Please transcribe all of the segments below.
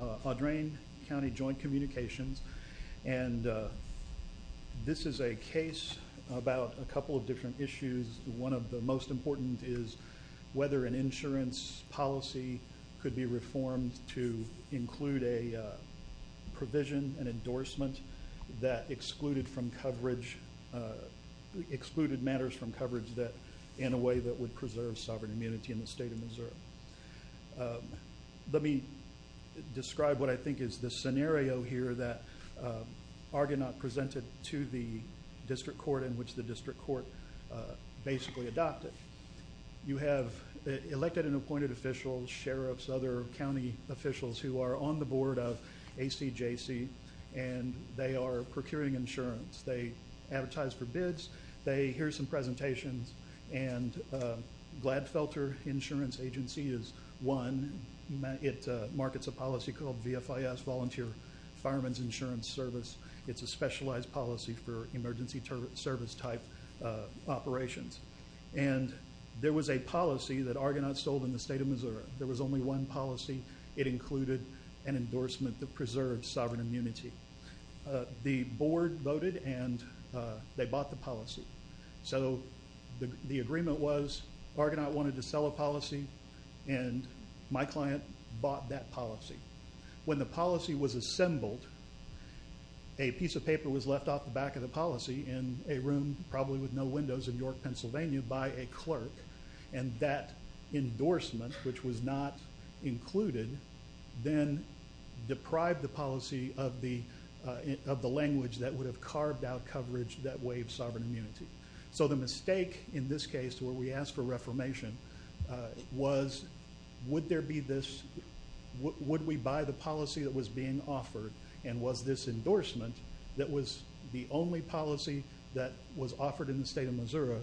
Audrain County Joint Communications and this is a case about a couple of different issues. One of the most important is whether an insurance policy could be reformed to include a provision, an endorsement that excluded from coverage, excluded matters from coverage that in a way that would preserve sovereign immunity in the state of Missouri. Let me describe what I think is the scenario here that Argonaut presented to the district court in which the district court basically adopted. You have elected and appointed officials, sheriffs, other county officials who are on the board of ACJC and they are procuring insurance. They advertise for bids, they hear some bad felter insurance agency is one. It markets a policy called VFIS, Volunteer Fireman's Insurance Service. It's a specialized policy for emergency service type operations and there was a policy that Argonaut sold in the state of Missouri. There was only one policy. It included an endorsement that preserved sovereign immunity. The board voted and they bought the policy. So the agreement was Argonaut wanted to sell a policy and my client bought that policy. When the policy was assembled, a piece of paper was left off the back of the policy in a room probably with no windows in York, Pennsylvania by a clerk and that endorsement, which was not included, then deprived the policy of the language that would have carved out coverage that waived sovereign immunity. So the mistake in this case where we asked for reformation was would there be this, would we buy the policy that was being offered and was this endorsement that was the only policy that was offered in the state of Missouri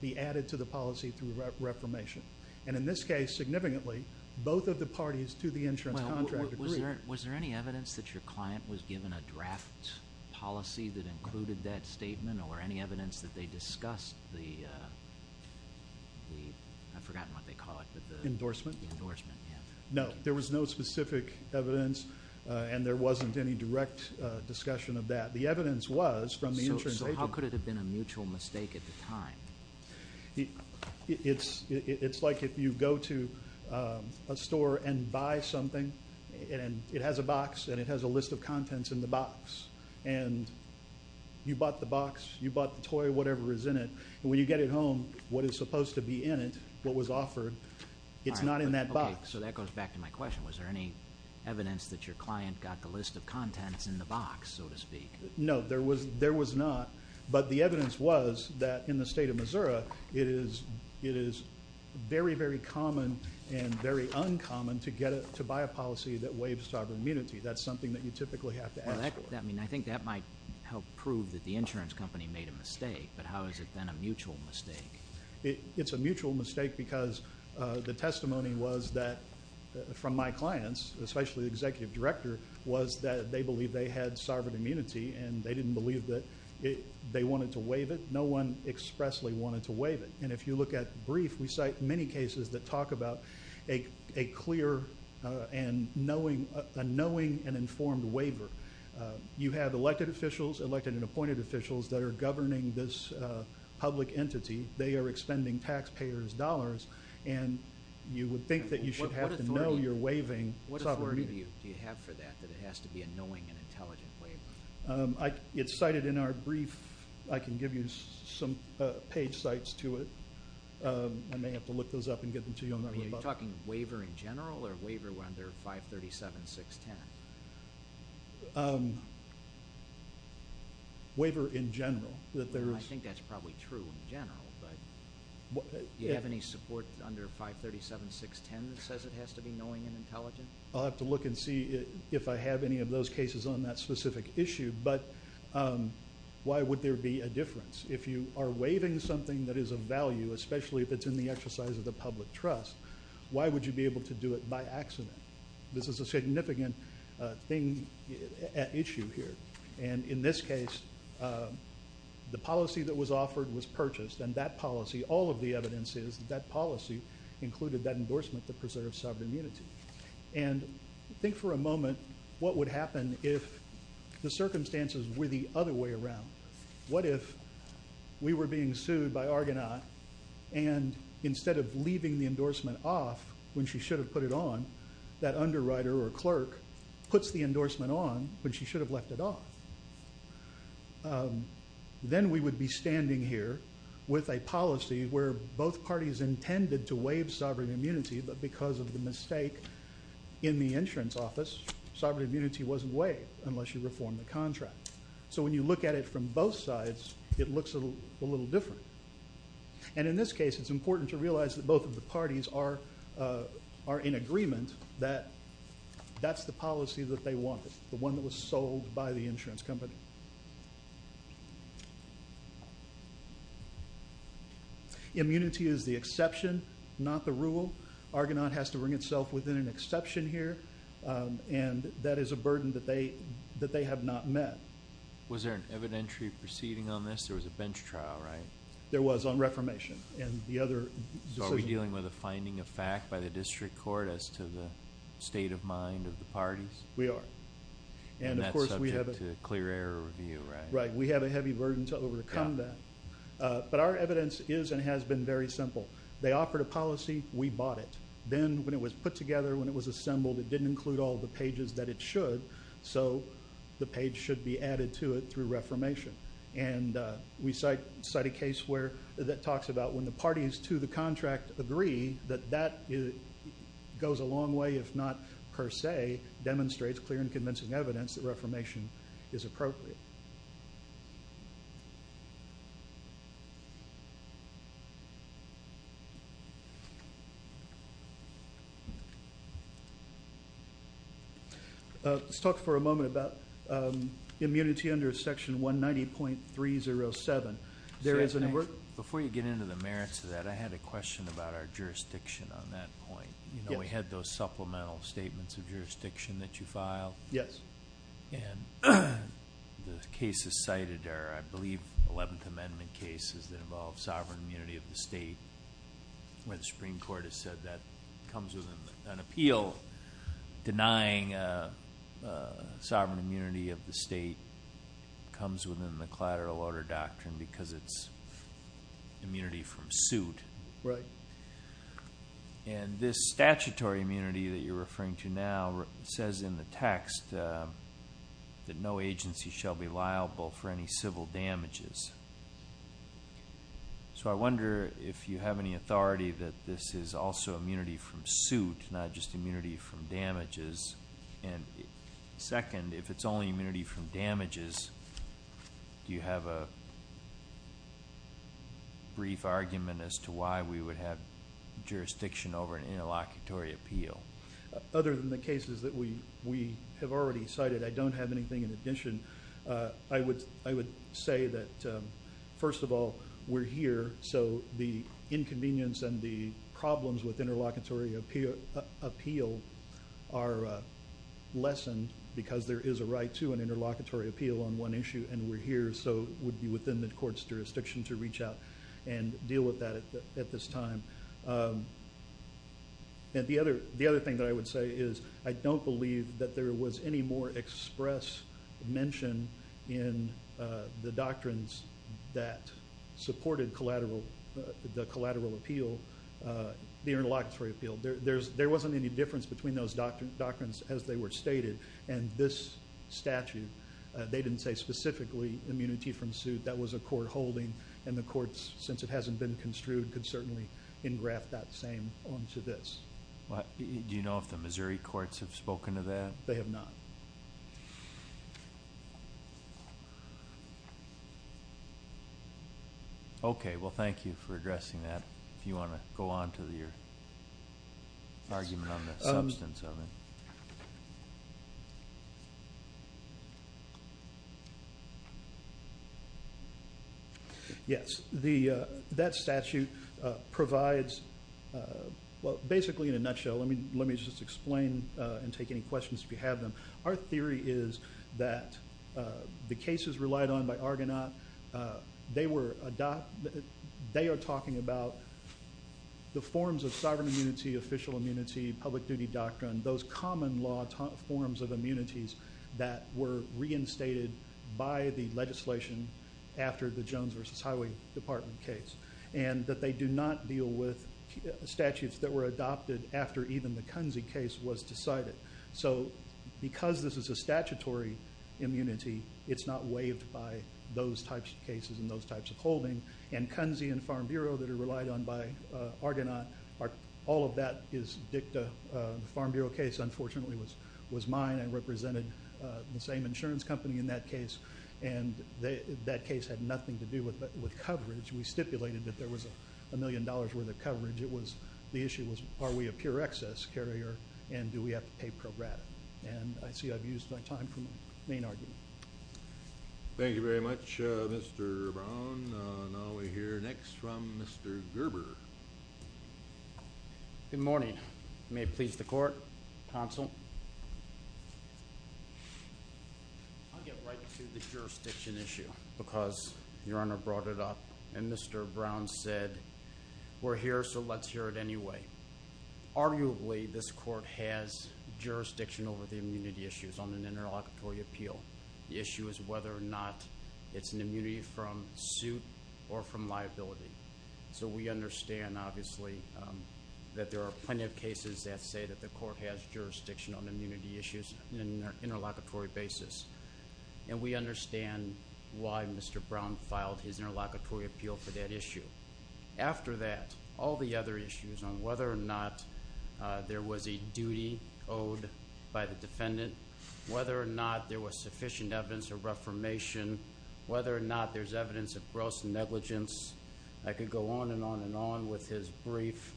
be added to the policy through reformation? And in this case significantly, both of the parties to the insurance contract agreed. Was there any evidence that your client was given a draft policy that included that statement or any evidence that they discussed the, I've forgotten what they call it, but the endorsement? No, there was no specific evidence and there wasn't any direct discussion of that. The evidence was from the insurance agent. So how could it have been a mutual mistake at the time? It's like if you go to a store and buy something and it has a box and it has a list of contents in the box and you bought the box, you bought the toy, whatever is in it, and when you get it home, what is supposed to be in it, what was offered, it's not in that box. So that goes back to my question. Was there any evidence that your client got the list of contents in the box, so to speak? No, there was not, but the evidence was that in the state of Missouri it is very, very common and very uncommon to get it, to buy a policy that waives sovereign immunity. That's something that you typically have to ask for. I mean, I think that might help prove that the insurance company made a mistake, but how is it then a mutual mistake? It's a mutual mistake because the testimony was that from my clients, especially the executive director, was that they believe they had sovereign immunity and they didn't believe that they wanted to waive it. No one expressly wanted to waive it. And if you look at brief, we cite many cases that talk about a clear and knowing and informed waiver. You have elected officials, elected and appointed officials that are governing this public entity. They are expending taxpayers' dollars and you would think that you should have to know you're waiving sovereign immunity. What authority do you have for that, that it has to be a knowing and intelligent waiver? It's cited in our brief. I can give you some page sites to it. I may have to look those up and get them to you on our website. Are you talking waiver in general or waiver under 537.610? Waiver in general. I think that's probably true in general, but do you have any support under 537.610 that says it has to be knowing and intelligent? I'll have to look and see if I have any of those cases on that specific issue, but why would there be a difference? If you are waiving something that is of value, especially if it's in the exercise of the public trust, why would you be able to do it by accident? This is a significant issue here, and in this case, the policy that was offered was purchased and that policy, all of the evidence is that policy included that endorsement that preserves sovereign immunity. And think for a moment what would happen if the circumstances were the other way around. What if we were being sued by Argonaut and instead of the endorsement off when she should have put it on, that underwriter or clerk puts the endorsement on when she should have left it off. Then we would be standing here with a policy where both parties intended to waive sovereign immunity, but because of the mistake in the insurance office, sovereign immunity wasn't waived unless you reform the contract. So when you look at it from both sides, it looks a little different. And in this case, it's important to make sure that both parties are in agreement that that's the policy that they wanted, the one that was sold by the insurance company. Immunity is the exception, not the rule. Argonaut has to bring itself within an exception here, and that is a burden that they have not met. Was there an evidentiary proceeding on this? There was a bench trial, right? There was on reformation and the other... So are we dealing with a finding of fact by the district court as to the state of mind of the parties? We are. And that's subject to clear error review, right? Right. We have a heavy burden to overcome that. But our evidence is and has been very simple. They offered a policy, we bought it. Then when it was put together, when it was assembled, it didn't include all the pages that it should, so the page should be added to it through reformation. And we cite a case where that talks about when the parties to the contract agree that that goes a long way, if not per se, demonstrates clear and convincing evidence that reformation is appropriate. Let's talk for a moment about immunity under Section 190.307. There isn't a... Before you get into the merits of that, I had a question about our jurisdiction on that point. We had those supplemental statements of jurisdiction that you cited. The cases cited are, I believe, 11th Amendment cases that involve sovereign immunity of the state, where the Supreme Court has said that comes with an appeal, denying sovereign immunity of the state, comes within the collateral order doctrine because it's immunity from suit. And this statutory immunity that you're referring to now says in the text that no agency shall be liable for any civil damages. So I wonder if you have any authority that this is also immunity from suit, not just immunity from damages. And second, if it's only immunity from damages, do you have a brief argument as to why we would have jurisdiction over an interlocutory appeal? Other than the cases that we have already cited, I don't have anything in addition. I would say that, first of all, we're here, so the inconvenience and the problems with interlocutory appeal are lessened because there is a right to an interlocutory appeal on one issue, and we're here, so it would be within the court's jurisdiction to reach out and deal with that at this time. And the other thing that I would say is, I don't believe that there was any more express mention in the doctrines that supported the collateral appeal, the interlocutory appeal. There wasn't any difference between those doctrines as they were stated, and this statute, they didn't say specifically immunity from suit. That was a court holding, and the courts, since it hasn't been construed, could certainly engraft that same onto this. Do you know if the Missouri courts have spoken to that? They have not. Okay. Well, thank you for addressing that, if you want to go on to your argument on the substance of it. Yes, that statute provides... Well, basically in a nutshell, let me just explain and take any questions if you have them. Our theory is that the cases relied on by Argonaut, they are talking about the forms of sovereign immunity, official immunity, public duty doctrine, those common law forms of immunities that were reinstated by the legislation after the Jones versus Highway Department case, and that they do not deal with statutes that were adopted after even the Kunze case was decided. So because this is a statutory immunity, it's not waived by those types of cases and those types of holding, and Kunze and Farm Bureau that case, unfortunately, was mine. I represented the same insurance company in that case, and that case had nothing to do with coverage. We stipulated that there was a million dollars worth of coverage. The issue was, are we a pure excess carrier, and do we have to pay pro grata? And I see I've used my time for my main argument. Thank you very much, Mr. Brown. Now we hear next from Mr. Gerber. Good morning. May it please the court, counsel? I'll get right to the jurisdiction issue, because Your Honor brought it up, and Mr. Brown said, we're here, so let's hear it anyway. Arguably, this court has jurisdiction over the immunity issues on an interlocutory appeal. The issue is whether or not it's an immunity from suit or from liability. So we understand, obviously, that there are plenty of cases that say that the court has jurisdiction on immunity issues on an interlocutory basis, and we understand why Mr. Brown filed his interlocutory appeal for that issue. After that, all the other issues on whether or not there was a duty owed by the defendant, whether or not there was a violation, whether or not there's evidence of gross negligence. I could go on and on and on with his brief,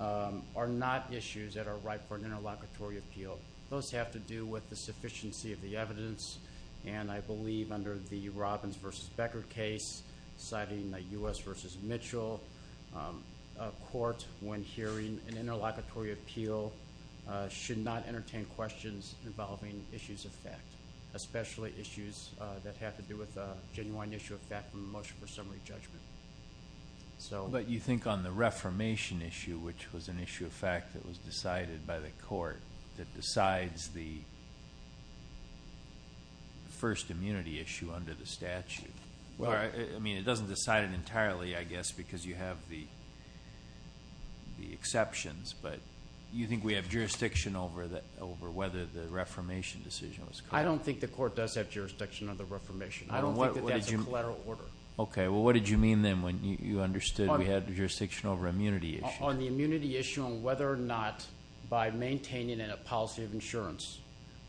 are not issues that are ripe for an interlocutory appeal. Those have to do with the sufficiency of the evidence, and I believe under the Robbins versus Becker case, citing the U.S. versus Mitchell court, when hearing an interlocutory appeal, should not entertain questions involving issues of fact, especially issues that have to do with a genuine issue of fact from the motion for summary judgment. But you think on the reformation issue, which was an issue of fact that was decided by the court, that decides the first immunity issue under the statute? Well, I mean, it doesn't decide it entirely, I guess, because you have the exceptions, but you think we have jurisdiction over whether the reformation decision was correct? I don't think the court does have jurisdiction over the reformation. I don't think that that's a collateral order. Okay. Well, what did you mean then when you understood we had jurisdiction over immunity issue? On the immunity issue on whether or not, by maintaining in a policy of insurance,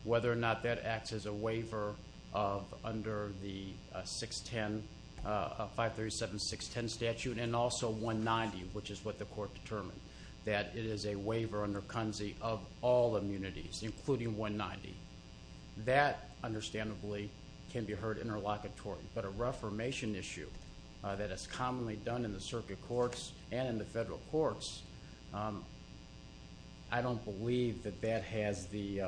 whether or not that acts as a waiver of under the 610, 537, 610 statute, and also 190, which is what the court determined, that it is a waiver under CUNZI of all immunities, including 190. That, understandably, can be heard interlocutory. But a reformation issue that is commonly done in the circuit courts and in the federal courts, I don't believe that that has the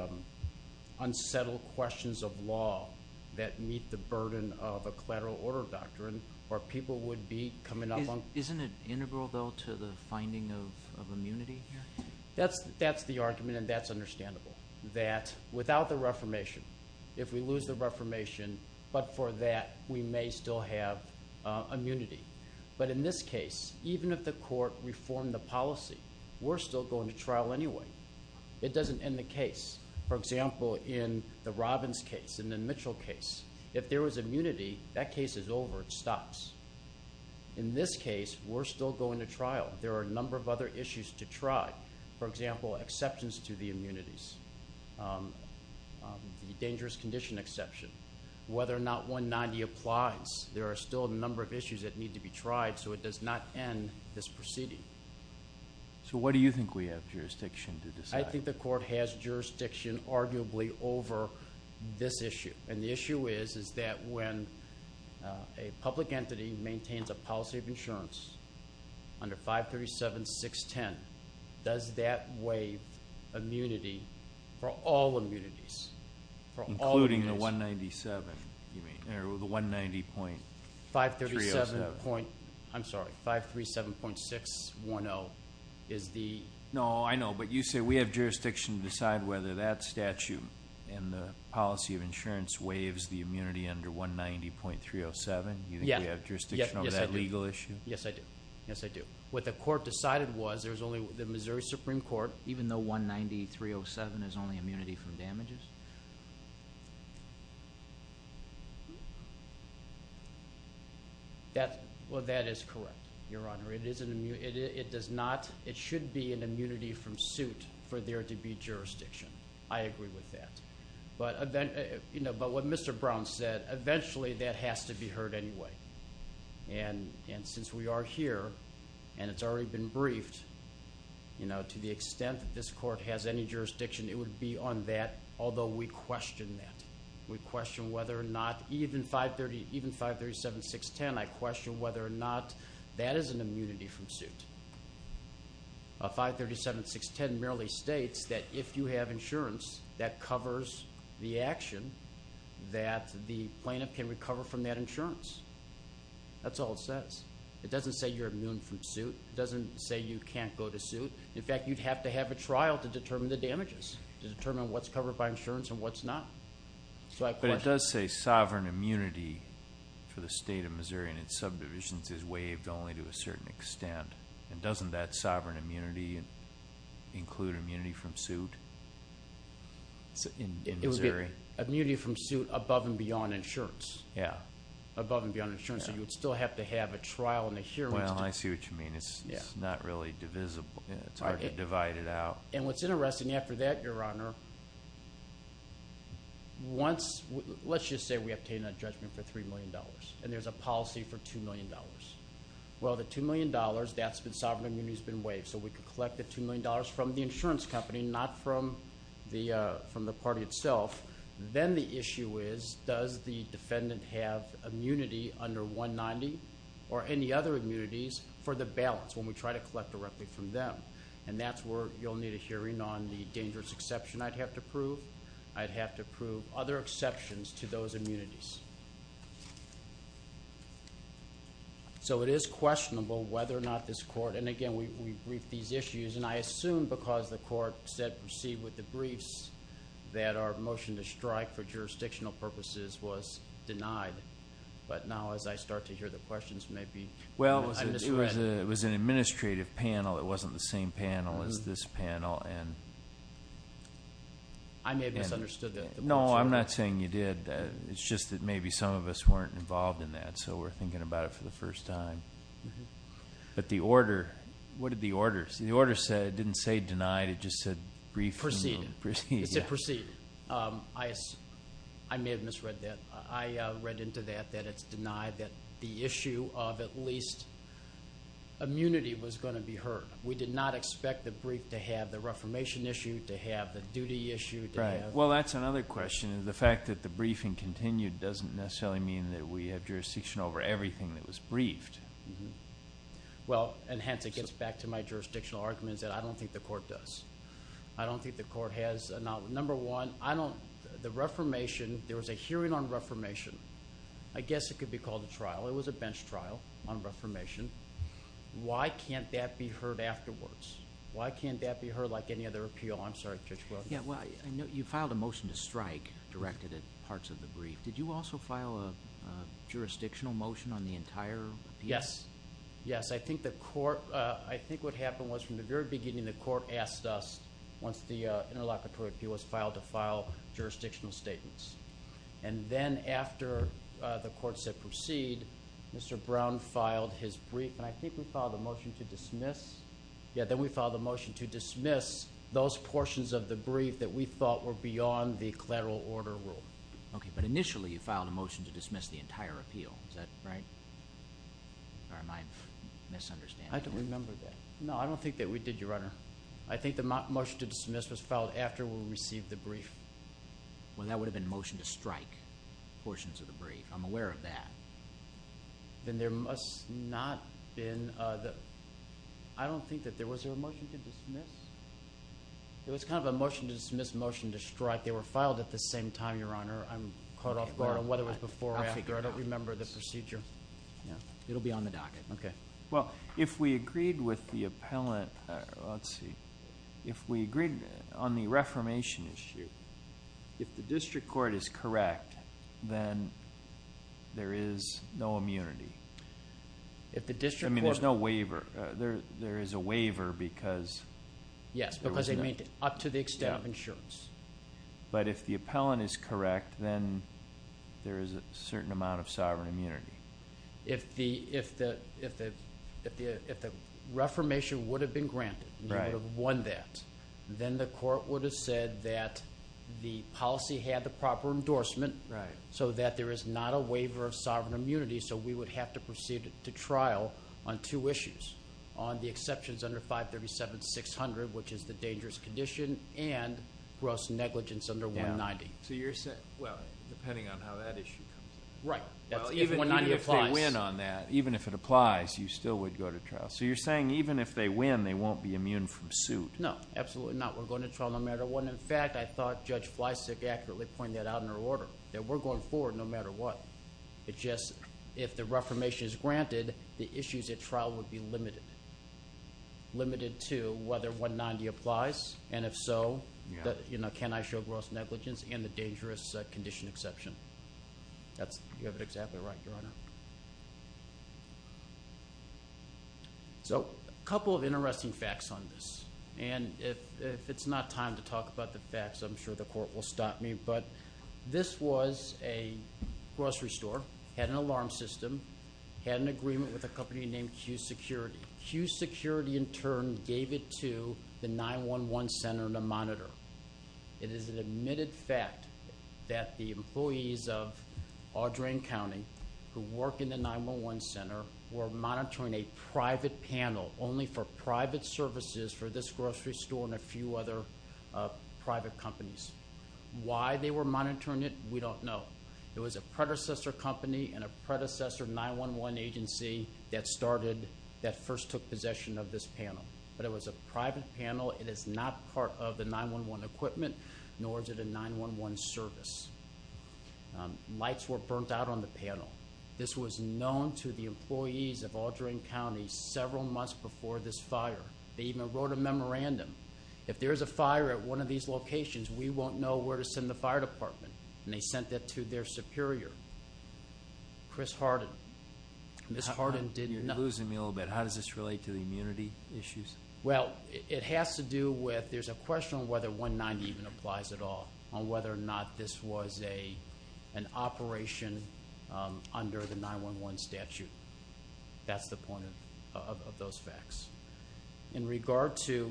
unsettled questions of law that meet the burden of a collateral order doctrine where people would be coming up on... Isn't it integral, though, to the finding of immunity here? That's the argument, and that's understandable, that without the reformation, if we lose the reformation, but for that, we may still have immunity. But in this case, even if the court reformed the policy, we're still going to trial anyway. It doesn't end the case. For example, in the Robbins case and the Mitchell case, if there was immunity, that case is over. It stops. In this case, we're still going to trial. There are a number of other issues to try. For example, exceptions to the immunities. The dangerous condition exception. Whether or not 190 applies, there are still a number of issues that need to be tried, so it does not end this proceeding. So what do you think we have jurisdiction to decide? I think the court has jurisdiction, arguably, over this issue. And the issue is, is that when a public entity maintains a policy of insurance under 537.610, does that waive immunity for all immunities? Including the 197, you mean? Or the 190.307. 537.610 is the... No, I know, but you say we have jurisdiction to decide whether that statute and the policy of insurance waives the immunity under 190.307. You think we have a legal issue? Yes, I do. Yes, I do. What the court decided was, there's only... The Missouri Supreme Court, even though 190.307 is only immunity from damages? Well, that is correct, Your Honor. It is an immunity... It does not... It should be an immunity from suit for there to be jurisdiction. I agree with that. But what Mr. Brown said, eventually that has to be heard anyway. And since we are here and it's already been briefed, to the extent that this court has any jurisdiction, it would be on that, although we question that. We question whether or not even 537.610, I question whether or not that is an immunity from suit. 537.610 merely states that if you have insurance that covers the action, that the plaintiff can recover from that insurance. That's all it says. It doesn't say you're immune from suit. It doesn't say you can't go to suit. In fact, you'd have to have a trial to determine the damages, to determine what's covered by insurance and what's not. So I question... But it does say sovereign immunity for the state of Missouri and its subdivisions is waived only to a certain extent. And doesn't that sovereign immunity include immunity from suit? In Missouri? It would be immunity from suit above and beyond insurance. Yeah. Above and beyond insurance. So you would still have to have a trial and a hearing. Well, I see what you mean. It's not really divisible. It's hard to divide it out. And what's interesting after that, Your Honor, once... Let's just say we obtain a judgment for $3 million and there's a policy for $2 million. Well, the $2 million, that's been... Sovereign immunity has been waived. So we could collect the $2 million from the insurance company, not from the party itself. Then the issue is, does the defendant have immunity under 190 or any other immunities for the balance when we try to collect directly from them? And that's where you'll need a hearing on the dangerous exception I'd have to prove. I'd have to prove other exceptions to those immunities. So it is questionable whether or not this court... And again, we briefed these issues. And I assume because the court said, proceed with the briefs, that our motion to strike for jurisdictional purposes was denied. But now as I start to hear the questions, maybe... Well, it was an administrative panel. It wasn't the same panel as this panel and... I may have misunderstood the question. No, I'm not saying you did. It's just that maybe some of us weren't involved in that. So we're thinking about it for the first time. But the order... What did the order say? The order didn't say denied, it just said brief... Proceed. It said proceed. I may have misread that. I read into that that it's denied that the issue of at least immunity was going to be heard. We did not expect the brief to have the reformation issue, to have the duty issue, to have... Well, that's another question. The fact that the briefing continued doesn't necessarily mean that we have jurisdiction over everything that was briefed. Well, and hence, it gets back to my jurisdictional arguments that I don't think the court does. I don't think the court has... Number one, I don't... The reformation, there was a hearing on reformation. I guess it could be called a trial. It was a bench trial on reformation. Why can't that be heard afterwards? Why can't that be heard like any other appeal? I'm sorry, Judge Weldon. Yeah, well, I know you filed a motion to strike directed at parts of the brief. Did you also file a jurisdictional motion on the entire appeal? Yes. Yes. I think the court... I think what happened was from the very beginning, the court asked us, once the interlocutor appeal was filed, to file jurisdictional statements. And then after the court said proceed, Mr. Brown filed his brief, and I think we filed a motion to dismiss... Yeah, then we filed a motion to dismiss those portions of the brief that we thought were beyond the collateral order rule. Okay, but initially, you filed a motion to dismiss the entire appeal. Is that right? Or am I misunderstanding? I don't remember that. No, I don't think that we did, Your Honor. I think the motion to dismiss was filed after we received the brief. Well, that would have been motion to strike portions of the brief. I'm aware of that. Then there must not been... I don't think that there was a motion to dismiss. It was kind of a motion to dismiss, Your Honor. I'm caught off guard on whether it was before or after. I don't remember the procedure. It'll be on the docket. Okay. Well, if we agreed with the appellant... Let's see. If we agreed on the reformation issue, if the district court is correct, then there is no immunity. If the district court... I mean, there's no waiver. There is a waiver because... Yes, because they made it up to the insurance. But if the appellant is correct, then there is a certain amount of sovereign immunity. If the reformation would have been granted, and you would have won that, then the court would have said that the policy had the proper endorsement so that there is not a waiver of sovereign immunity, so we would have to proceed to trial on two issues. On the exceptions under 537 and 600, which is the dangerous condition, and gross negligence under 190. So you're saying... Well, depending on how that issue comes up. Right. Even if 190 applies... Even if they win on that, even if it applies, you still would go to trial. So you're saying even if they win, they won't be immune from suit? No, absolutely not. We're going to trial no matter what. In fact, I thought Judge Fleisig accurately pointed that out in her order, that we're going forward no matter what. It's just, if the reformation is granted, the issues at trial would be limited. Limited to whether 190 applies, and if so, can I show gross negligence and the dangerous condition exception? You have it exactly right, Your Honor. So a couple of interesting facts on this, and if it's not time to talk about the facts, I'm sure the court will stop me, but this was a grocery store, had an alarm system, had an agreement with a company named Q Security. Q Security in turn gave it to the 911 Center to monitor. It is an admitted fact that the employees of Audrain County, who work in the 911 Center, were monitoring a private panel only for private services for this grocery store and a few other private companies. Why they were monitoring it, we don't know. It was a predecessor company and a predecessor 911 agency that started, that first took possession of this panel, but it was a private panel. It is not part of the 911 equipment, nor is it a 911 service. Lights were burnt out on the panel. This was known to the employees of Audrain County several months before this fire. They even wrote a memorandum. If there's a fire at one of these locations, we won't know where to send the fire department, and they sent that to their superior, Chris Harden. Ms. Harden did not... You're losing me a little bit. How does this relate to the immunity issues? Well, it has to do with, there's a question on whether 190 even applies at all, on whether or not this was an operation under the 911 statute. That's the point of those facts. In regard to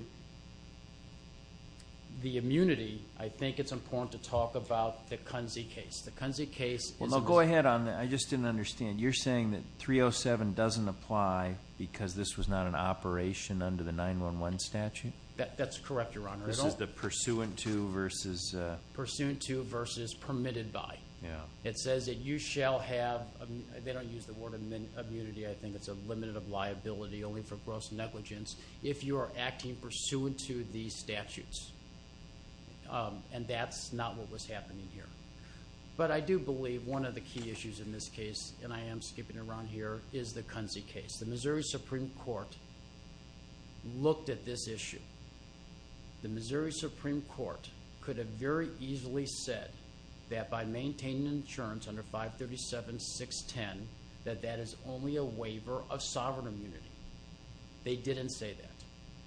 the immunity, I think it's important to talk about the Kunze case. The Kunze case is... Well, go ahead on that. I just didn't understand. You're saying that 307 doesn't apply because this was not an operation under the 911 statute? That's correct, Your Honor. This is the pursuant to versus... Pursuant to versus permitted by. Yeah. It says that you shall have... They don't use the word immunity. I think it's a limited of pursuant to the statutes, and that's not what was happening here. But I do believe one of the key issues in this case, and I am skipping around here, is the Kunze case. The Missouri Supreme Court looked at this issue. The Missouri Supreme Court could have very easily said that by maintaining insurance under 537.610, that that is only a waiver of sovereign immunity. They didn't say that.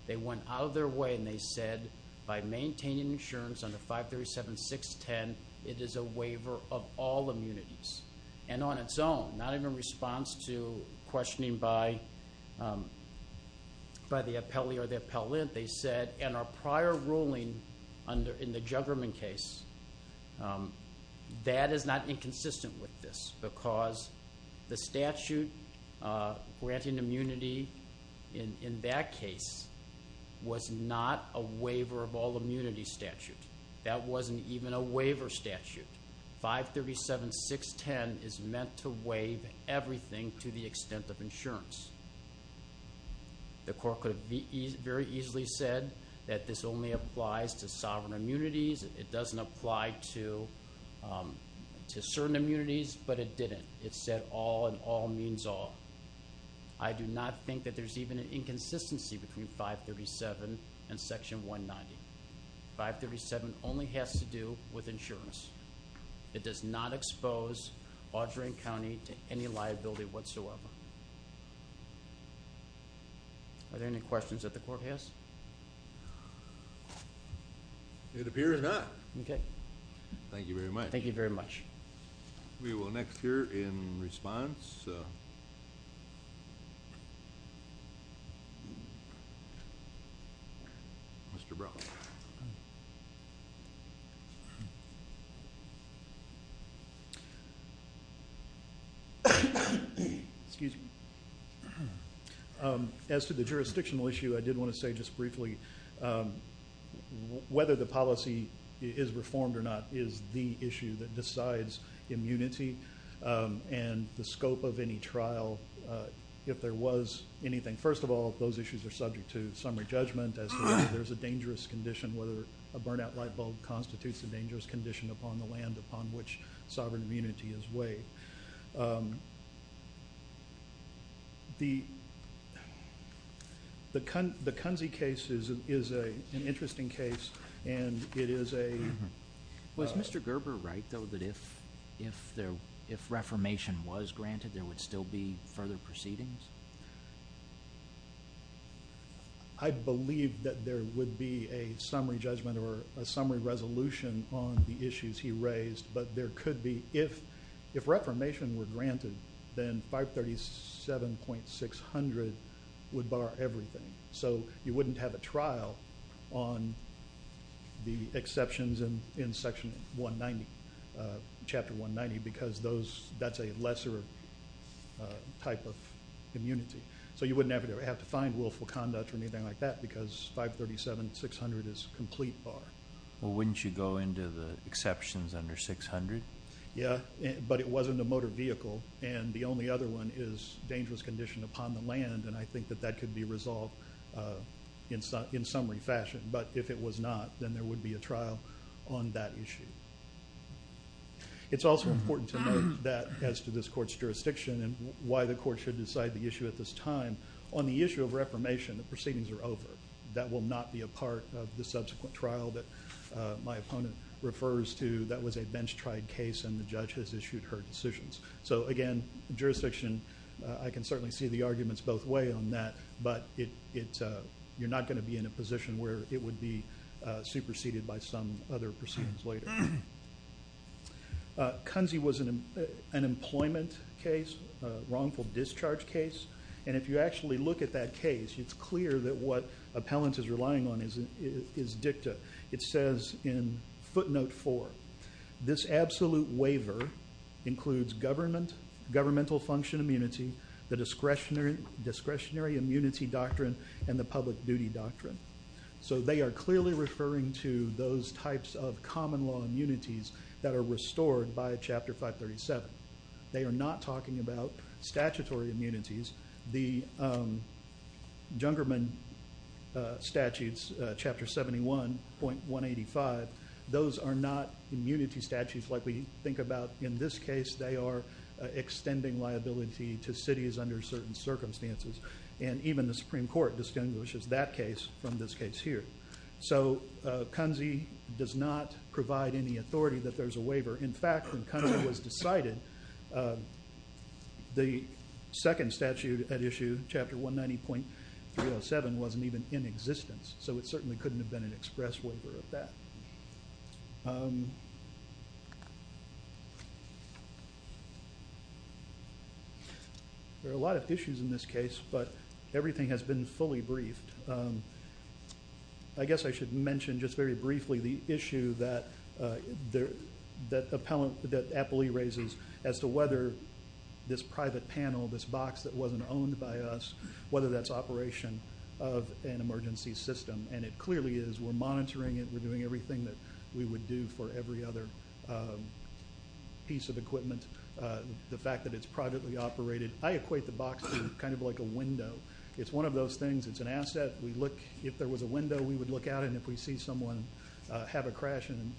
They went out of their way and they said, by maintaining insurance under 537.610, it is a waiver of all immunities. And on its own, not even in response to questioning by the appellee or the appellant, they said, and our prior ruling in the Juggerman case, that is not inconsistent with this because the statute granting immunity in that case was not a waiver of all immunity statute. That wasn't even a waiver statute. 537.610 is meant to waive everything to the extent of insurance. The court could have very easily said that this only applies to sovereign immunities. It doesn't apply to certain immunities, but it didn't. It said all and all means all. I do not think that there's even an inconsistency between 537.610 and section 190. 537.610 only has to do with insurance. It does not expose Auduron County to any liability whatsoever. Are there any questions that the court has? It appears not. Okay. Thank you very much. Thank you very much. We will next hear in response. Mr. Brown. Excuse me. As to the jurisdictional issue, I did want to say just briefly, whether the policy is reformed or not is the issue that decides immunity and the scope of any trial. If there was anything... First of all, those issues are subject to summary judgment as to whether there's a dangerous condition, whether a burnout light bulb constitutes a dangerous condition upon the land upon which sovereign immunity is weighed. The Kunze case is an interesting case and it is a... Was Mr. Gerber right though, that if reformation was granted, there would still be further proceedings? I believe that there would be a summary judgment or a summary resolution on the issues he raised, but there could be... If reformation were granted, then 537.600 would bar everything. So you wouldn't have a trial on the exceptions in Section 190, Chapter 190, because that's a lesser type of immunity. So you wouldn't have to find willful conduct or anything like that, because 537.600 is complete bar. Well, wouldn't you go into the exceptions under 600? Yeah, but it wasn't a motor vehicle and the only other one is dangerous condition upon the land, and I think that that could be resolved in summary fashion. But if it was not, then there would be a trial on that issue. It's also important to note that as to this court's jurisdiction and why the court should decide the issue at this time, on the issue of over. That will not be a part of the subsequent trial that my opponent refers to. That was a bench tried case and the judge has issued her decisions. So again, jurisdiction, I can certainly see the arguments both way on that, but you're not gonna be in a position where it would be superseded by some other proceedings later. Kunze was an employment case, wrongful discharge case, and if you actually look at that case, it's clear that what appellant is relying on is dicta. It says in footnote four, this absolute waiver includes governmental function immunity, the discretionary immunity doctrine, and the public duty doctrine. So they are clearly referring to those types of common law immunities that are restored by Chapter 537. They are not talking about statutory immunities. The Jungerman statutes, Chapter 71.185, those are not immunity statutes like we think about in this case. They are extending liability to cities under certain circumstances. And even the Supreme Court distinguishes that case from this case here. So Kunze does not provide any authority that there's a waiver. In fact, when Kunze was decided, the second statute at issue, Chapter 190.307, wasn't even in existence, so it certainly couldn't have been an express waiver of that. There are a lot of issues in this case, but everything has been fully briefed. I guess I should mention just very briefly the issue that Appley raises as to whether this private panel, this box that wasn't owned by us, whether that's operation of an emergency system. And it clearly is. We're monitoring it, we're doing everything that we would do for every other piece of equipment. The fact that it's privately operated. I equate the box to kind of like a window. It's one of those things, it's an asset, we look... If there was a window, we would look at it. And if we see someone have a crash and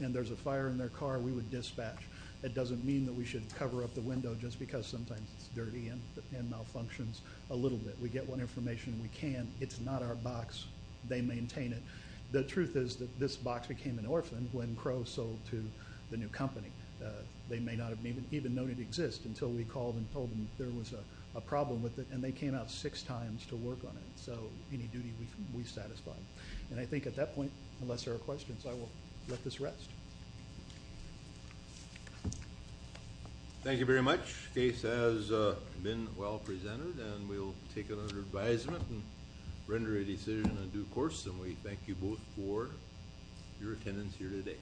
there's a fire in their car, we would dispatch. It doesn't mean that we should cover up the window just because sometimes it's dirty and malfunctions a little bit. We get what information we can. It's not our box, they maintain it. The truth is that this box became an orphan when Crow sold to the new company. They may not have even known it exists until we called and told them there was a problem with it, and they came out six times to work on it. So any duty we satisfy. And I think at that point, unless there are questions, I will let this rest. Thank you very much. The case has been well presented and we'll take it under advisement and render a decision on due course. And we thank you both for your attendance here today.